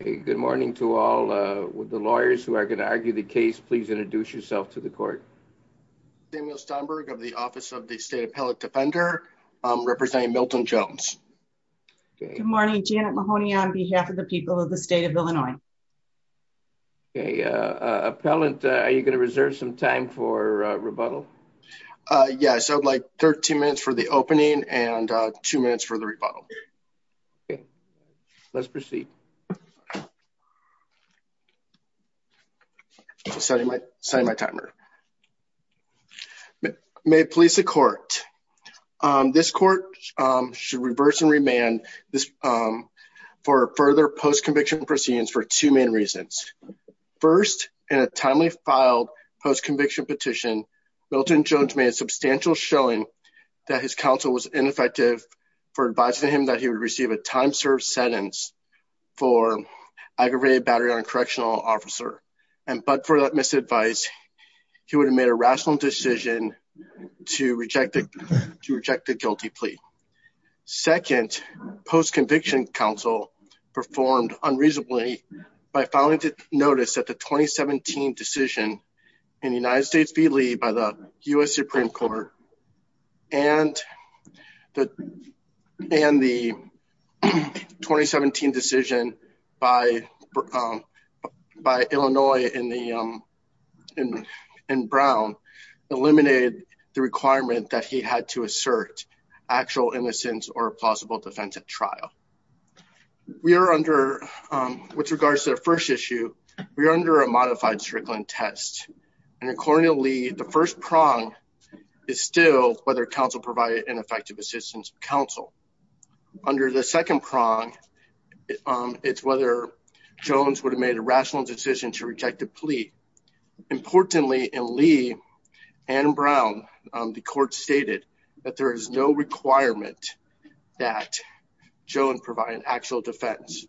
Good morning to all the lawyers who are going to argue the case. Please introduce yourself to the court. Samuel Stonberg of the Office of the State Appellate Defender, representing Milton Jones. Good morning, Janet Mahoney on behalf of the people of the state of Illinois. Appellant, are you going to reserve some time for rebuttal? Yes, I would like 13 minutes for the opening and 2 minutes for the rebuttal. Let's proceed. I'm setting my timer. May it please the court. This court should reverse and remand for further post-conviction proceedings for two main reasons. First, in a timely filed post-conviction petition, Milton Jones made a substantial showing that his counsel was ineffective for advising him that he would receive a time-served sentence for aggravated battery on a correctional officer. But for that misadvice, he would have made a rational decision to reject the guilty plea. Second, post-conviction counsel performed unreasonably by filing notice that the 2017 decision in the United States v. Lee by the U.S. Supreme Court and the 2017 decision by Illinois and Brown eliminated the requirement that he had to assert actual innocence or a plausible defense at trial. With regards to the first issue, we are under a modified Strickland test. According to Lee, the first prong is still whether counsel provided ineffective assistance to counsel. Under the second prong, it's whether Jones would have made a rational decision to reject the plea. Importantly, in Lee and Brown, the court stated that there is no requirement that Jones provide an actual defense,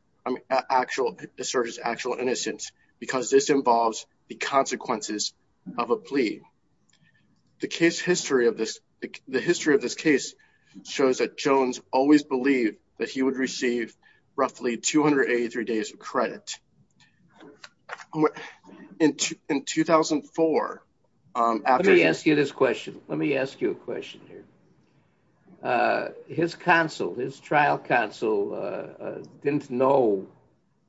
assert his actual innocence, because this involves the consequences of a plea. The history of this case shows that Jones always believed that he would receive roughly 283 days of credit. In 2004. Let me ask you this question. Let me ask you a question here. His counsel, his trial counsel, didn't know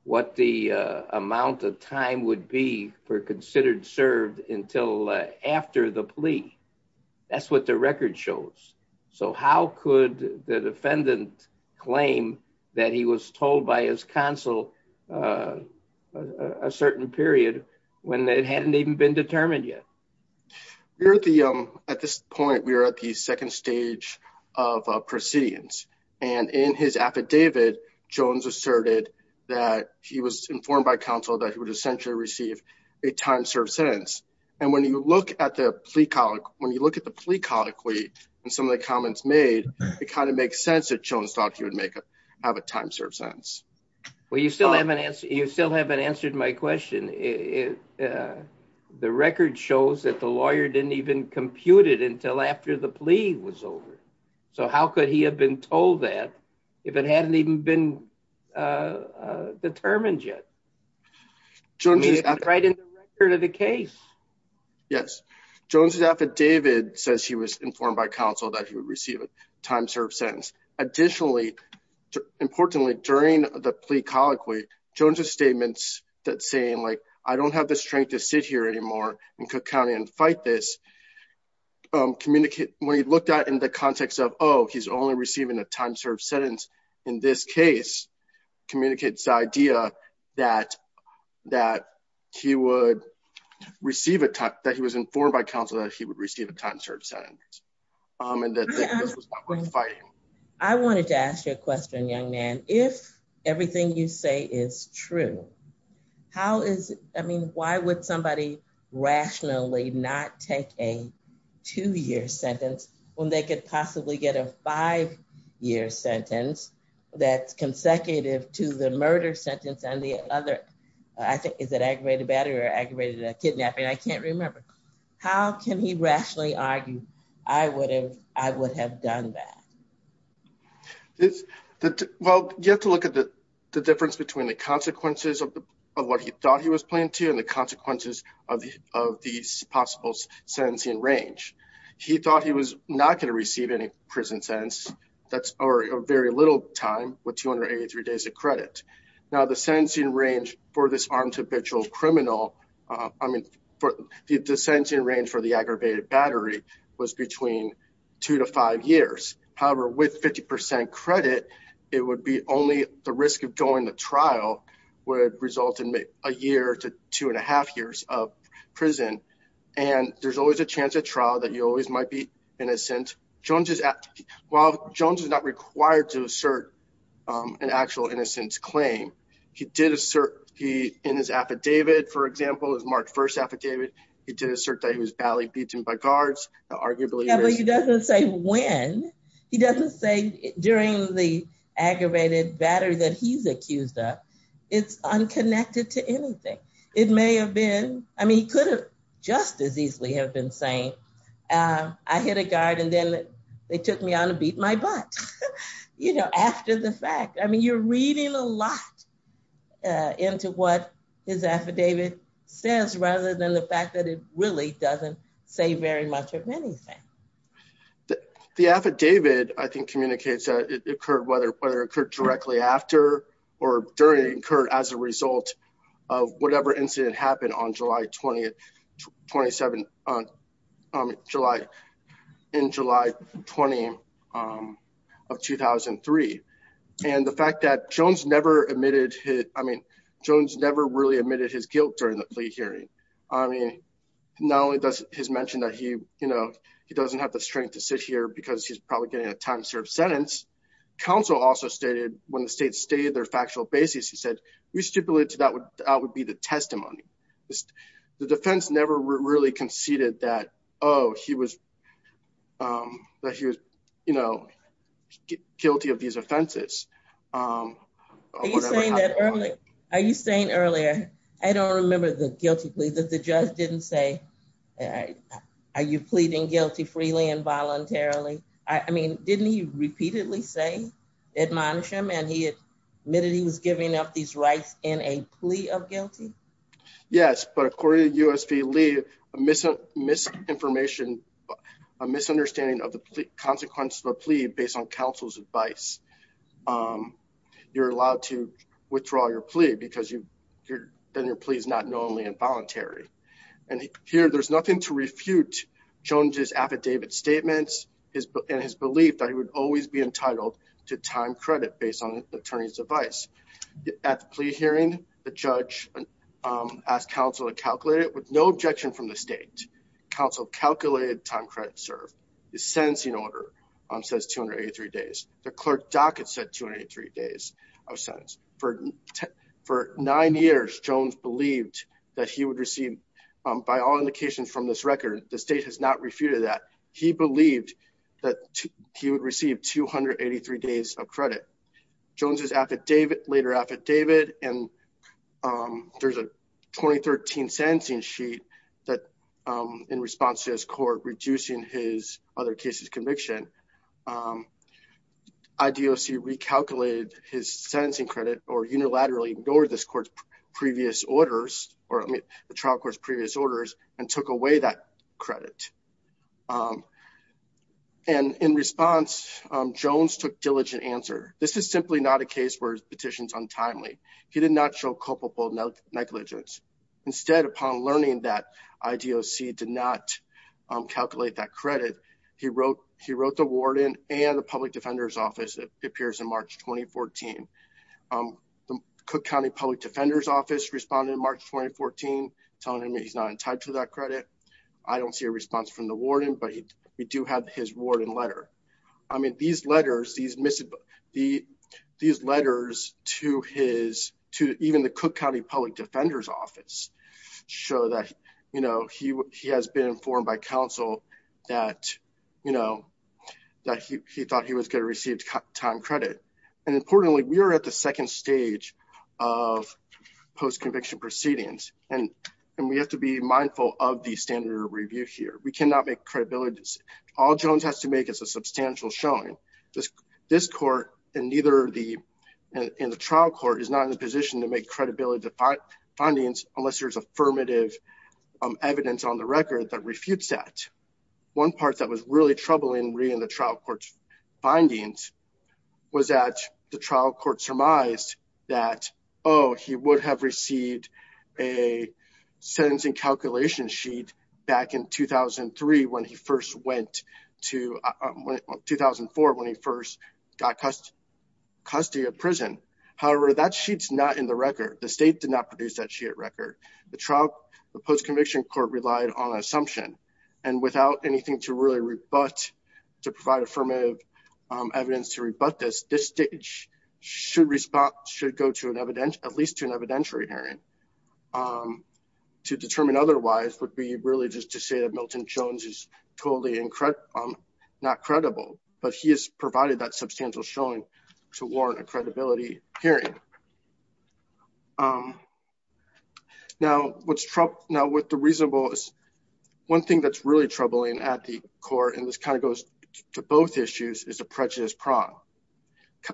what the amount of time would be for considered served until after the plea. That's what the record shows. So how could the defendant claim that he was told by his counsel a certain period when it hadn't even been determined yet? At this point, we are at the second stage of proceedings. And in his affidavit, Jones asserted that he was informed by counsel that he would essentially receive a time served sentence. And when you look at the plea colloquy, when you look at the plea colloquy, and some of the comments made, it kind of makes sense that Jones thought he would have a time served sentence. Well, you still haven't answered my question. The record shows that the lawyer didn't even compute it until after the plea was over. So how could he have been told that if it hadn't even been determined yet? I mean, it's right in the record of the case. Yes. Jones' affidavit says he was informed by counsel that he would receive a time served sentence. Additionally, importantly, during the plea colloquy, Jones' statements that saying, like, I don't have the strength to sit here anymore in Cook County and fight this, when he looked at it in the context of, oh, he's only receiving a time served sentence in this case, communicates the idea that he was informed by counsel that he would receive a time served sentence. And that this was not worth fighting. I wanted to ask you a question, young man. If everything you say is true, how is, I mean, why would somebody rationally not take a two-year sentence when they could possibly get a five-year sentence that's consecutive to the murder sentence and the other, I think, is it aggravated battery or aggravated kidnapping? I can't remember. How can he rationally argue, I would have done that? Well, you have to look at the difference between the consequences of what he thought he was playing to and the consequences of these possible sentencing range. He thought he was not going to receive any prison sentence, or very little time, with 283 days of credit. Now, the sentencing range for this armed habitual criminal, I mean, the sentencing range for the aggravated battery was between two to five years. However, with 50% credit, it would be only the risk of going to trial would result in a year to two and a half years of prison. And there's always a chance of trial that you always might be innocent. While Jones is not required to assert an actual innocence claim, he did assert in his affidavit, for example, his March 1 affidavit, he did assert that he was badly beaten by guards. Yeah, but he doesn't say when, he doesn't say during the aggravated battery that he's accused of, it's unconnected to anything. It may have been, I mean, he could have just as easily have been saying, I hit a guard and then they took me on to beat my butt. You know, after the fact, I mean, you're reading a lot into what his affidavit says rather than the fact that it really doesn't say very much of anything. The affidavit, I think, communicates that it occurred, whether it occurred directly after or during, it occurred as a result of whatever incident happened on July 20, 27, July, in July 20 of 2003. And the fact that Jones never admitted his, I mean, Jones never really admitted his guilt during the plea hearing. I mean, not only does his mention that he, you know, he doesn't have the strength to sit here because he's probably getting a time served sentence. Counsel also stated when the state stated their factual basis, he said, we stipulated to that would be the testimony. The defense never really conceded that, oh, he was, that he was, you know, guilty of these offenses. Are you saying earlier, I don't remember the guilty plea that the judge didn't say, are you pleading guilty freely and voluntarily? I mean, didn't he repeatedly say admonish him and he admitted he was giving up these rights in a plea of guilty? Yes, but according to USP Lee, a misunderstanding of the consequences of a plea based on counsel's advice, you're allowed to withdraw your plea because your plea is not knowingly involuntary. And here, there's nothing to refute Jones's affidavit statements and his belief that he would always be entitled to time credit based on attorney's advice. At the plea hearing, the judge asked counsel to calculate it with no objection from the state. Counsel calculated time credit served the sentencing order says 283 days. The clerk docket said 283 days of sentence for nine years. Jones believed that he would receive by all indications from this record. The state has not refuted that. Jones's affidavit, later affidavit, and there's a 2013 sentencing sheet that in response to his court reducing his other cases conviction, IDOC recalculated his sentencing credit or unilaterally ignored this court's previous orders or the trial court's previous orders and took away that credit. And in response, Jones took diligent answer. This is simply not a case where his petitions are untimely. He did not show culpable negligence. Instead, upon learning that IDOC did not calculate that credit, he wrote the warden and the public defender's office. It appears in March 2014. The Cook County public defender's office responded in March 2014, telling him he's not entitled to that credit. I don't see a response from the warden, but we do have his warden letter. I mean, these letters, these missive, these letters to his, to even the Cook County public defender's office show that, you know, he has been informed by counsel that, you know, that he thought he was going to receive time credit. And importantly, we are at the second stage of post conviction proceedings, and we have to be mindful of the standard review here. We cannot make credibility. All Jones has to make is a substantial showing. This court and neither the trial court is not in a position to make credibility findings unless there's affirmative evidence on the record that refutes that. One part that was really troubling in the trial court's findings was that the trial court surmised that, oh, he would have received a sentencing calculation sheet back in 2003 when he first went to 2004 when he first got custody of prison. However, that sheet's not in the record. The state did not produce that sheet at record. The trial, the post conviction court relied on assumption and without anything to really rebut to provide affirmative evidence to rebut this, this stage should respond, should go to an evidential, at least to an evidentiary hearing. To determine otherwise would be really just to say that Milton Jones is totally incorrect, not credible, but he has provided that substantial showing to warrant a credibility hearing. Now, what's Trump now with the reasonable is one thing that's really troubling at the core and this kind of goes to both issues is a prejudice prong.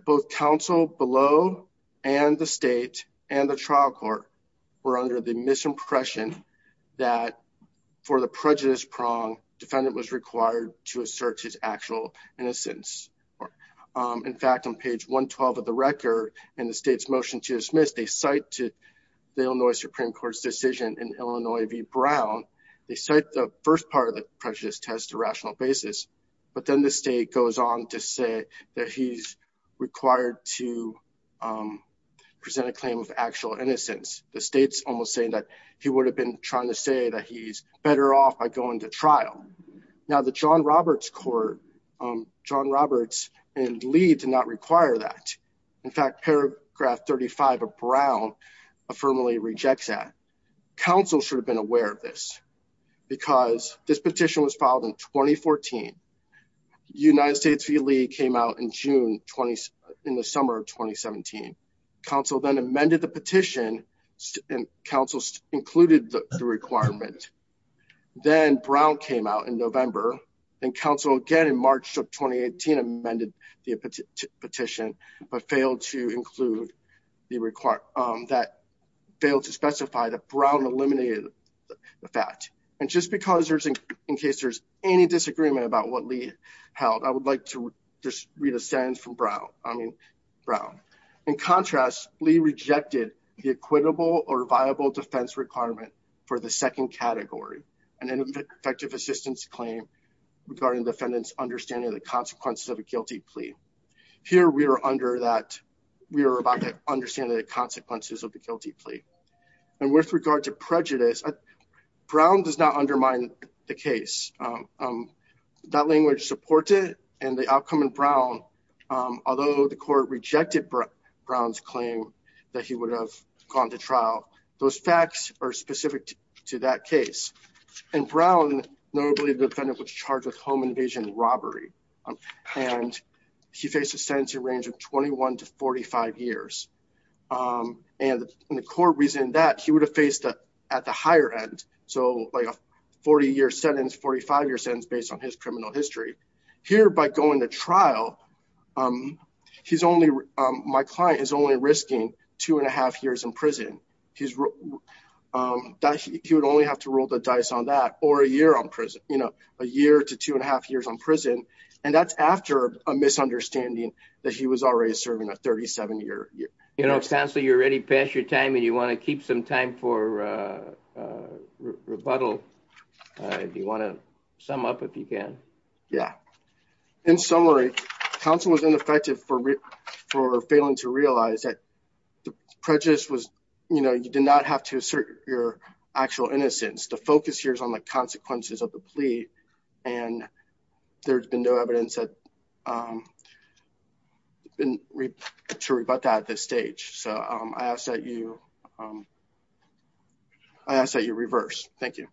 Both counsel below and the state and the trial court were under the misimpression that for the prejudice prong defendant was required to assert his actual innocence. In fact, on page 112 of the record and the state's motion to dismiss, they cite to the Illinois Supreme Court's decision in Illinois v. Brown. They cite the first part of the prejudice test to rational basis, but then the state goes on to say that he's required to present a claim of actual innocence. The state's almost saying that he would have been trying to say that he's better off by going to trial. Now, the John Roberts and Lee did not require that. In fact, paragraph 35 of Brown affirmatively rejects that. Counsel should have been aware of this because this petition was filed in 2014. United States v. Lee came out in the summer of 2017. Counsel then amended the petition and counsel included the requirement. Then Brown came out in November and counsel again in March of 2018 amended the petition, but failed to include the required that failed to specify that Brown eliminated the fact. And just because there's in case there's any disagreement about what Lee held, I would like to just read a sentence from Brown. I mean, Brown, in contrast, Lee rejected the equitable or viable defense requirement for the second category and effective assistance claim regarding defendants understanding the consequences of a guilty plea. Here we are under that we are about to understand the consequences of the guilty plea. And with regard to prejudice, Brown does not undermine the case. That language supported and the outcome in Brown, although the court rejected Brown's claim that he would have gone to trial. Those facts are specific to that case. And Brown, notably, the defendant was charged with home invasion and robbery. And he faced a sentencing range of 21 to 45 years. And the court reason that he would have faced at the higher end. So like a 40 year sentence, 45 year sentence based on his criminal history here by going to trial. He's only my client is only risking two and a half years in prison. He's he would only have to roll the dice on that or a year on prison, you know, a year to two and a half years in prison. And that's after a misunderstanding that he was already serving a 37 year. You know, counsel, you're ready. Pass your time and you want to keep some time for rebuttal. Do you want to sum up if you can? Yeah. In summary, counsel was ineffective for for failing to realize that the prejudice was, you know, you did not have to assert your actual innocence. The focus here is on the consequences of the plea. And there's been no evidence that. And to rebut that at this stage, so I ask that you. I say you reverse. Thank you.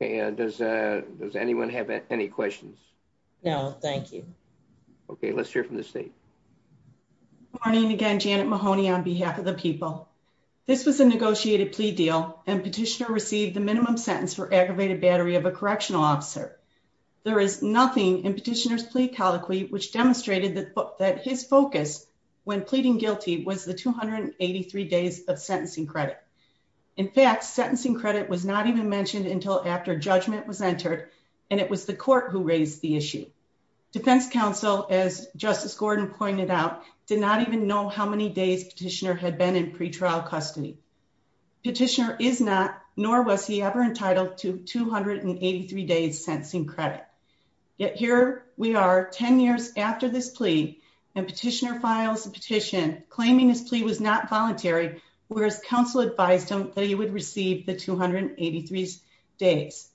And does does anyone have any questions? No, thank you. Okay, let's hear from the state. Morning again, Janet Mahoney on behalf of the people. This was a negotiated plea deal and petitioner received the minimum sentence for aggravated battery of a correctional officer. There is nothing in petitioners plea colloquy, which demonstrated that that his focus when pleading guilty was the 283 days of sentencing credit. In fact, sentencing credit was not even mentioned until after judgment was entered. And it was the court who raised the issue. Defense counsel, as Justice Gordon pointed out, did not even know how many days petitioner had been in pretrial custody petitioner is not nor was he ever entitled to 283 days sentencing credit. Yet here we are 10 years after this plea and petitioner files a petition, claiming his plea was not voluntary, whereas counsel advised him that he would receive the 283 days.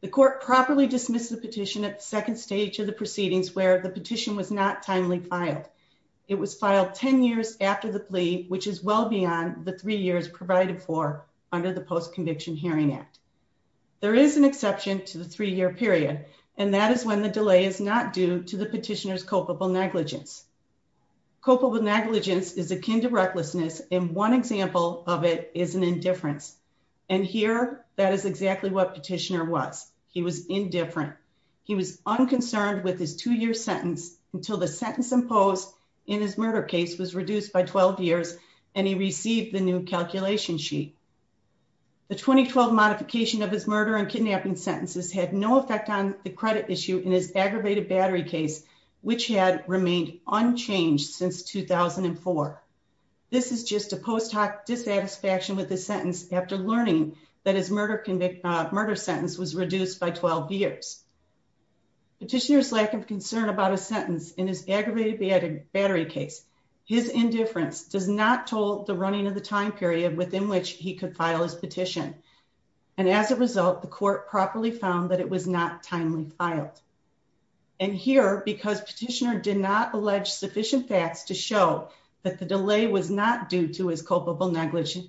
The court properly dismiss the petition at the second stage of the proceedings where the petition was not timely filed. It was filed 10 years after the plea, which is well beyond the three years provided for under the Post Conviction Hearing Act. There is an exception to the three year period, and that is when the delay is not due to the petitioners culpable negligence. Culpable negligence is akin to recklessness, and one example of it is an indifference. And here, that is exactly what petitioner was. He was indifferent. He was unconcerned with his two year sentence until the sentence imposed in his murder case was reduced by 12 years, and he received the new calculation sheet. The 2012 modification of his murder and kidnapping sentences had no effect on the credit issue in his aggravated battery case, which had remained unchanged since 2004. This is just a post hoc dissatisfaction with the sentence after learning that his murder sentence was reduced by 12 years. Petitioner's lack of concern about a sentence in his aggravated battery case, his indifference does not toll the running of the time period within which he could file his petition. And as a result, the court properly found that it was not timely filed. And here, because petitioner did not allege sufficient facts to show that the delay was not due to his culpable negligence,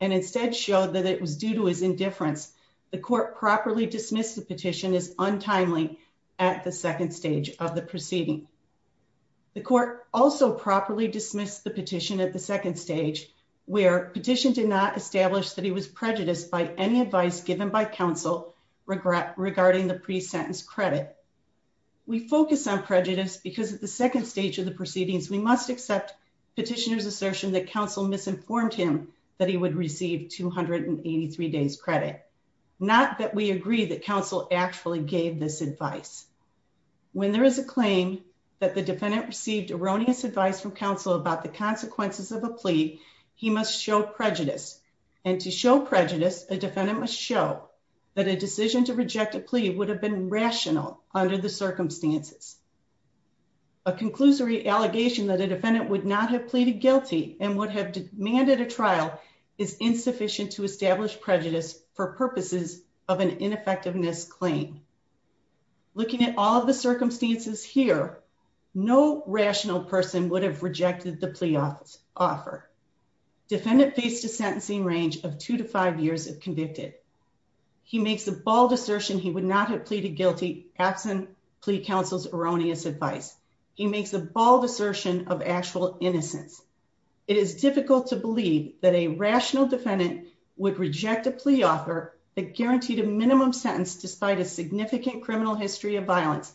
and instead showed that it was due to his indifference, the court properly dismissed the petition as untimely at the second stage of the proceeding. The court also properly dismissed the petition at the second stage, where petition did not establish that he was prejudiced by any advice given by counsel regarding the pre-sentence credit. We focus on prejudice because at the second stage of the proceedings, we must accept petitioner's assertion that counsel misinformed him that he would receive 283 days credit, not that we agree that counsel actually gave this advice. When there is a claim that the defendant received erroneous advice from counsel about the consequences of a plea, he must show prejudice. And to show prejudice, a defendant must show that a decision to reject a plea would have been rational under the circumstances. A conclusory allegation that a defendant would not have pleaded guilty and would have demanded a trial is insufficient to establish prejudice for purposes of an ineffectiveness claim. Looking at all of the circumstances here, no rational person would have rejected the plea offer. Defendant faced a sentencing range of two to five years if convicted. He makes a bold assertion he would not have pleaded guilty absent plea counsel's erroneous advice. He makes a bold assertion of actual innocence. It is difficult to believe that a rational defendant would reject a plea offer that guaranteed a minimum sentence despite a significant criminal history of violence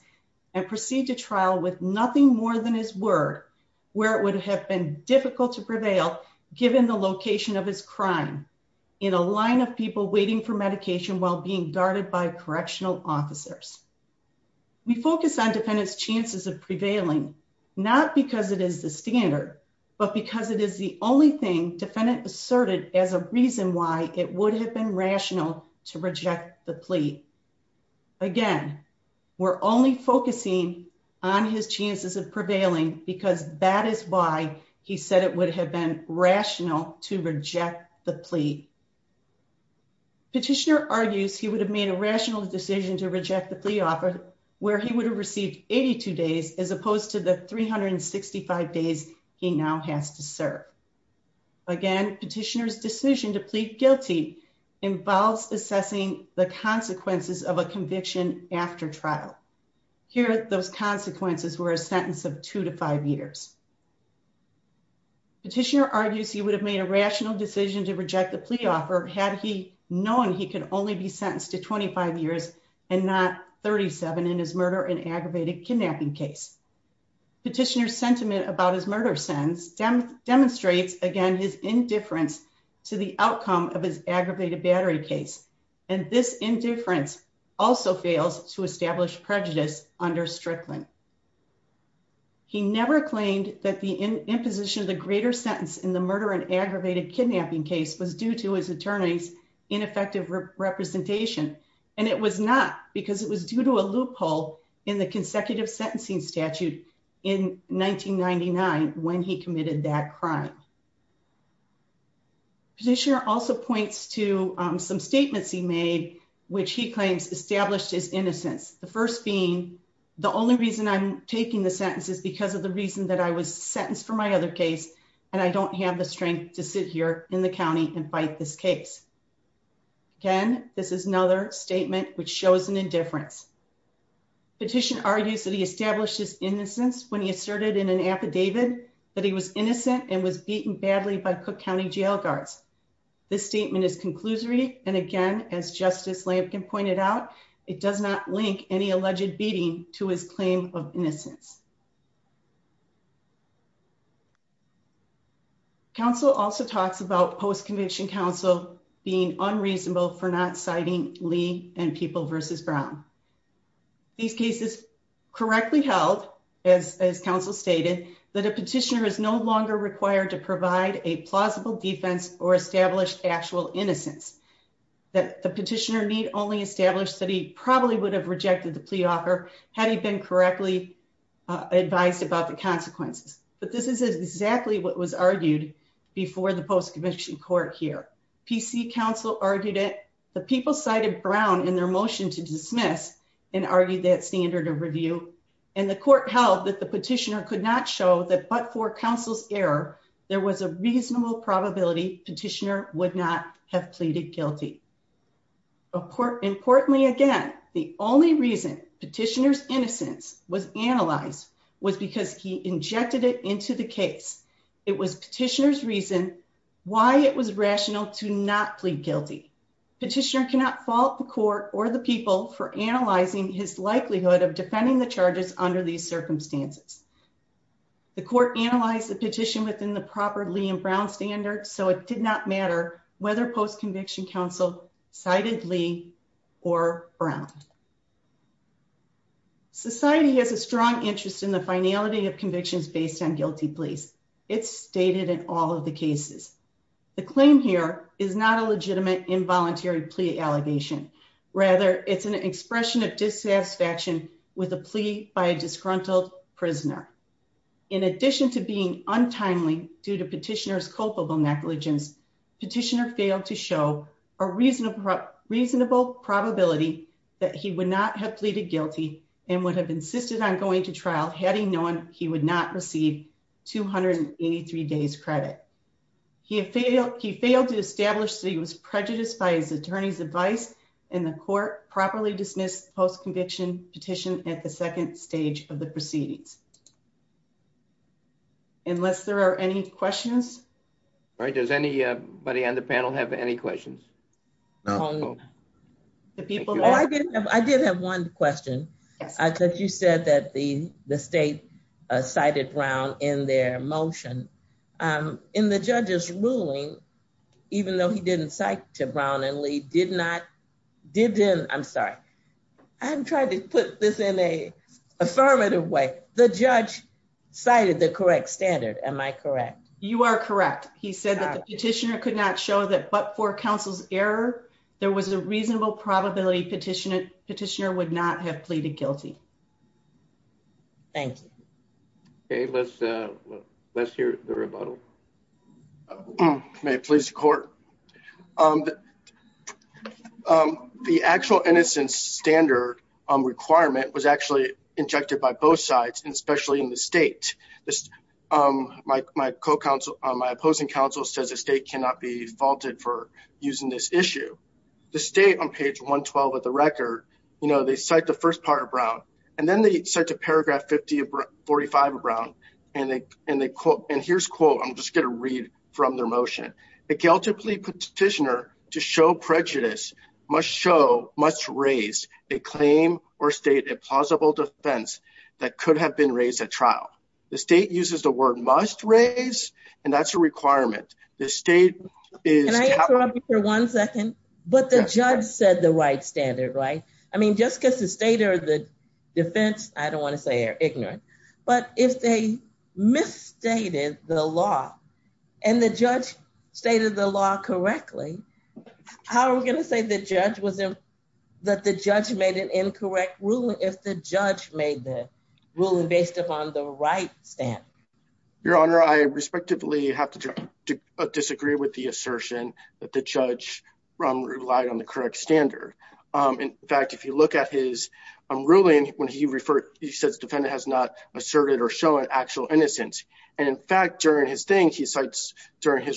and proceed to trial with nothing more than his word where it would have been difficult to prevail given the location of his crime in a line of people waiting for medication while being guarded by correctional officers. We focus on defendant's chances of prevailing, not because it is the standard, but because it is the only thing defendant asserted as a reason why it would have been rational to reject the plea. Again, we're only focusing on his chances of prevailing because that is why he said it would have been rational to reject the plea. Petitioner argues he would have made a rational decision to reject the plea offer where he would have received 82 days as opposed to the 365 days he now has to serve. Again, petitioner's decision to plead guilty involves assessing the consequences of a conviction after trial. Here, those consequences were a sentence of two to five years. Petitioner argues he would have made a rational decision to reject the plea offer had he known he could only be sentenced to 25 years and not 37 in his murder and aggravated kidnapping case. Petitioner's sentiment about his murder sentence demonstrates, again, his indifference to the outcome of his aggravated battery case, and this indifference also fails to establish prejudice under Strickland. He never claimed that the imposition of the greater sentence in the murder and aggravated kidnapping case was due to his attorney's ineffective representation, and it was not because it was due to a loophole in the consecutive sentencing statute in 1999 when he committed that crime. Petitioner also points to some statements he made, which he claims established his innocence, the first being, the only reason I'm taking the sentence is because of the reason that I was sentenced for my other case, and I don't have the strength to sit here in the county and fight this case. Again, this is another statement which shows an indifference. Petitioner argues that he established his innocence when he asserted in an affidavit that he was innocent and was beaten badly by Cook County jail guards. This statement is conclusory, and again, as Justice Lampkin pointed out, it does not link any alleged beating to his claim of innocence. Counsel also talks about post-conviction counsel being unreasonable for not citing Lee and People v. Brown. These cases correctly held, as counsel stated, that a petitioner is no longer required to provide a plausible defense or establish actual innocence. The petitioner need only establish that he probably would have rejected the plea offer had he been correctly advised about the consequences. But this is exactly what was argued before the post-conviction court here. PC counsel argued that the people cited Brown in their motion to dismiss and argued that standard of review, and the court held that the petitioner could not show that but for counsel's error, there was a reasonable probability petitioner would not have pleaded guilty. Importantly, again, the only reason petitioner's innocence was analyzed was because he injected it into the case. It was petitioner's reason why it was rational to not plead guilty. Petitioner cannot fault the court or the people for analyzing his likelihood of defending the charges under these circumstances. The court analyzed the petition within the proper Lee and Brown standards, so it did not matter whether post-conviction counsel cited Lee or Brown. Society has a strong interest in the finality of convictions based on guilty pleas. It's stated in all of the cases. The claim here is not a legitimate involuntary plea allegation. Rather, it's an expression of dissatisfaction with a plea by a disgruntled prisoner. In addition to being untimely due to petitioner's culpable negligence, petitioner failed to show a reasonable probability that he would not have pleaded guilty and would have insisted on going to trial had he known he would not receive 283 days credit. He failed to establish that he was prejudiced by his attorney's advice, and the court properly dismissed post-conviction petition at the second stage of the proceedings. Unless there are any questions? All right, does anybody on the panel have any questions? I did have one question. You said that the state cited Brown in their motion. In the judge's ruling, even though he didn't cite Brown and Lee, did not, I'm sorry, I'm trying to put this in an affirmative way, the judge cited the correct standard, am I correct? You are correct. He said that the petitioner could not show that, but for counsel's error, there was a reasonable probability petitioner would not have pleaded guilty. Thank you. Okay, let's hear the rebuttal. May it please the court. The actual innocence standard requirement was actually injected by both sides, and especially in the state. My opposing counsel says the state cannot be faulted for using this issue. The state, on page 112 of the record, they cite the first part of Brown, and then they cite paragraph 45 of Brown, and here's a quote. I'm just going to read from their motion. The guilty plea petitioner to show prejudice must show, must raise a claim or state a plausible defense that could have been raised at trial. The state uses the word must raise, and that's a requirement. The state is- Can I interrupt you for one second? But the judge said the right standard, right? I mean, just because the state or the defense, I don't want to say they're ignorant. But if they misstated the law, and the judge stated the law correctly, how are we going to say that the judge made an incorrect ruling if the judge made the ruling based upon the right standard? Your Honor, I respectively have to disagree with the assertion that the judge relied on the correct standard. In fact, if you look at his ruling, when he referred, he says defendant has not asserted or shown actual innocence. And in fact, during his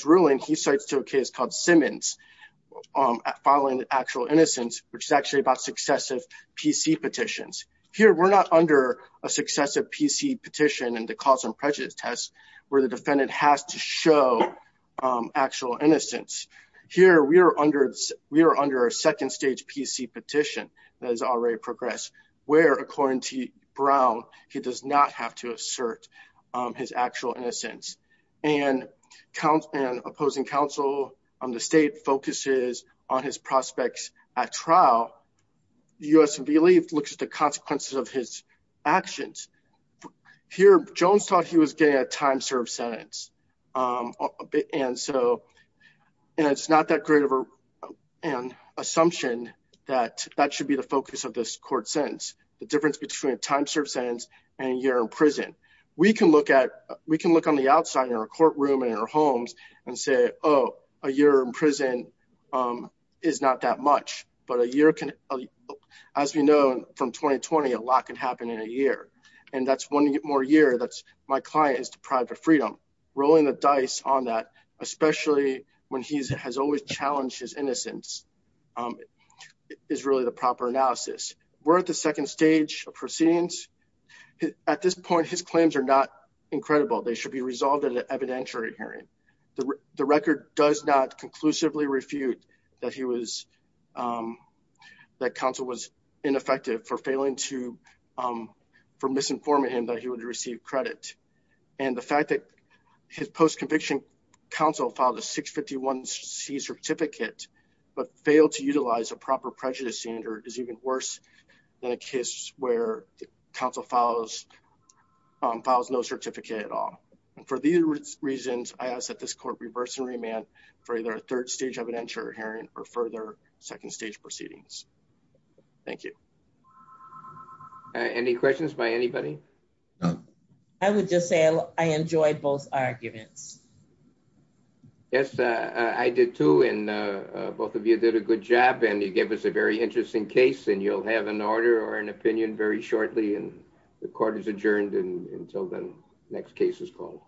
ruling, he cites to a case called Simmons, filing actual innocence, which is actually about successive PC petitions. Here, we're not under a successive PC petition in the cause and prejudice test where the defendant has to show actual innocence. Here, we are under a second stage PC petition that has already progressed, where according to Brown, he does not have to assert his actual innocence. And an opposing counsel on the state focuses on his prospects at trial. The U.S. believe looks at the consequences of his actions. Here, Jones thought he was getting a time served sentence. And so it's not that great of an assumption that that should be the focus of this court sentence. The difference between a time served sentence and a year in prison. We can look at we can look on the outside in our courtroom and our homes and say, oh, a year in prison is not that much. But a year can, as we know from 2020, a lot can happen in a year. And that's one more year. That's my client is deprived of freedom. Rolling the dice on that, especially when he has always challenged his innocence, is really the proper analysis. We're at the second stage of proceedings. At this point, his claims are not incredible. They should be resolved at an evidentiary hearing. The record does not conclusively refute that he was that counsel was ineffective for failing to for misinforming him that he would receive credit. And the fact that his post-conviction counsel filed a 651 C certificate but failed to utilize a proper prejudice standard is even worse than a case where counsel files files no certificate at all. For these reasons, I ask that this court reverse and remand for either a third stage evidentiary hearing or further second stage proceedings. Thank you. Any questions by anybody? I would just say I enjoyed both arguments. Yes, I did, too. And both of you did a good job and you gave us a very interesting case. And you'll have an order or an opinion very shortly. And the court is adjourned until the next case is called.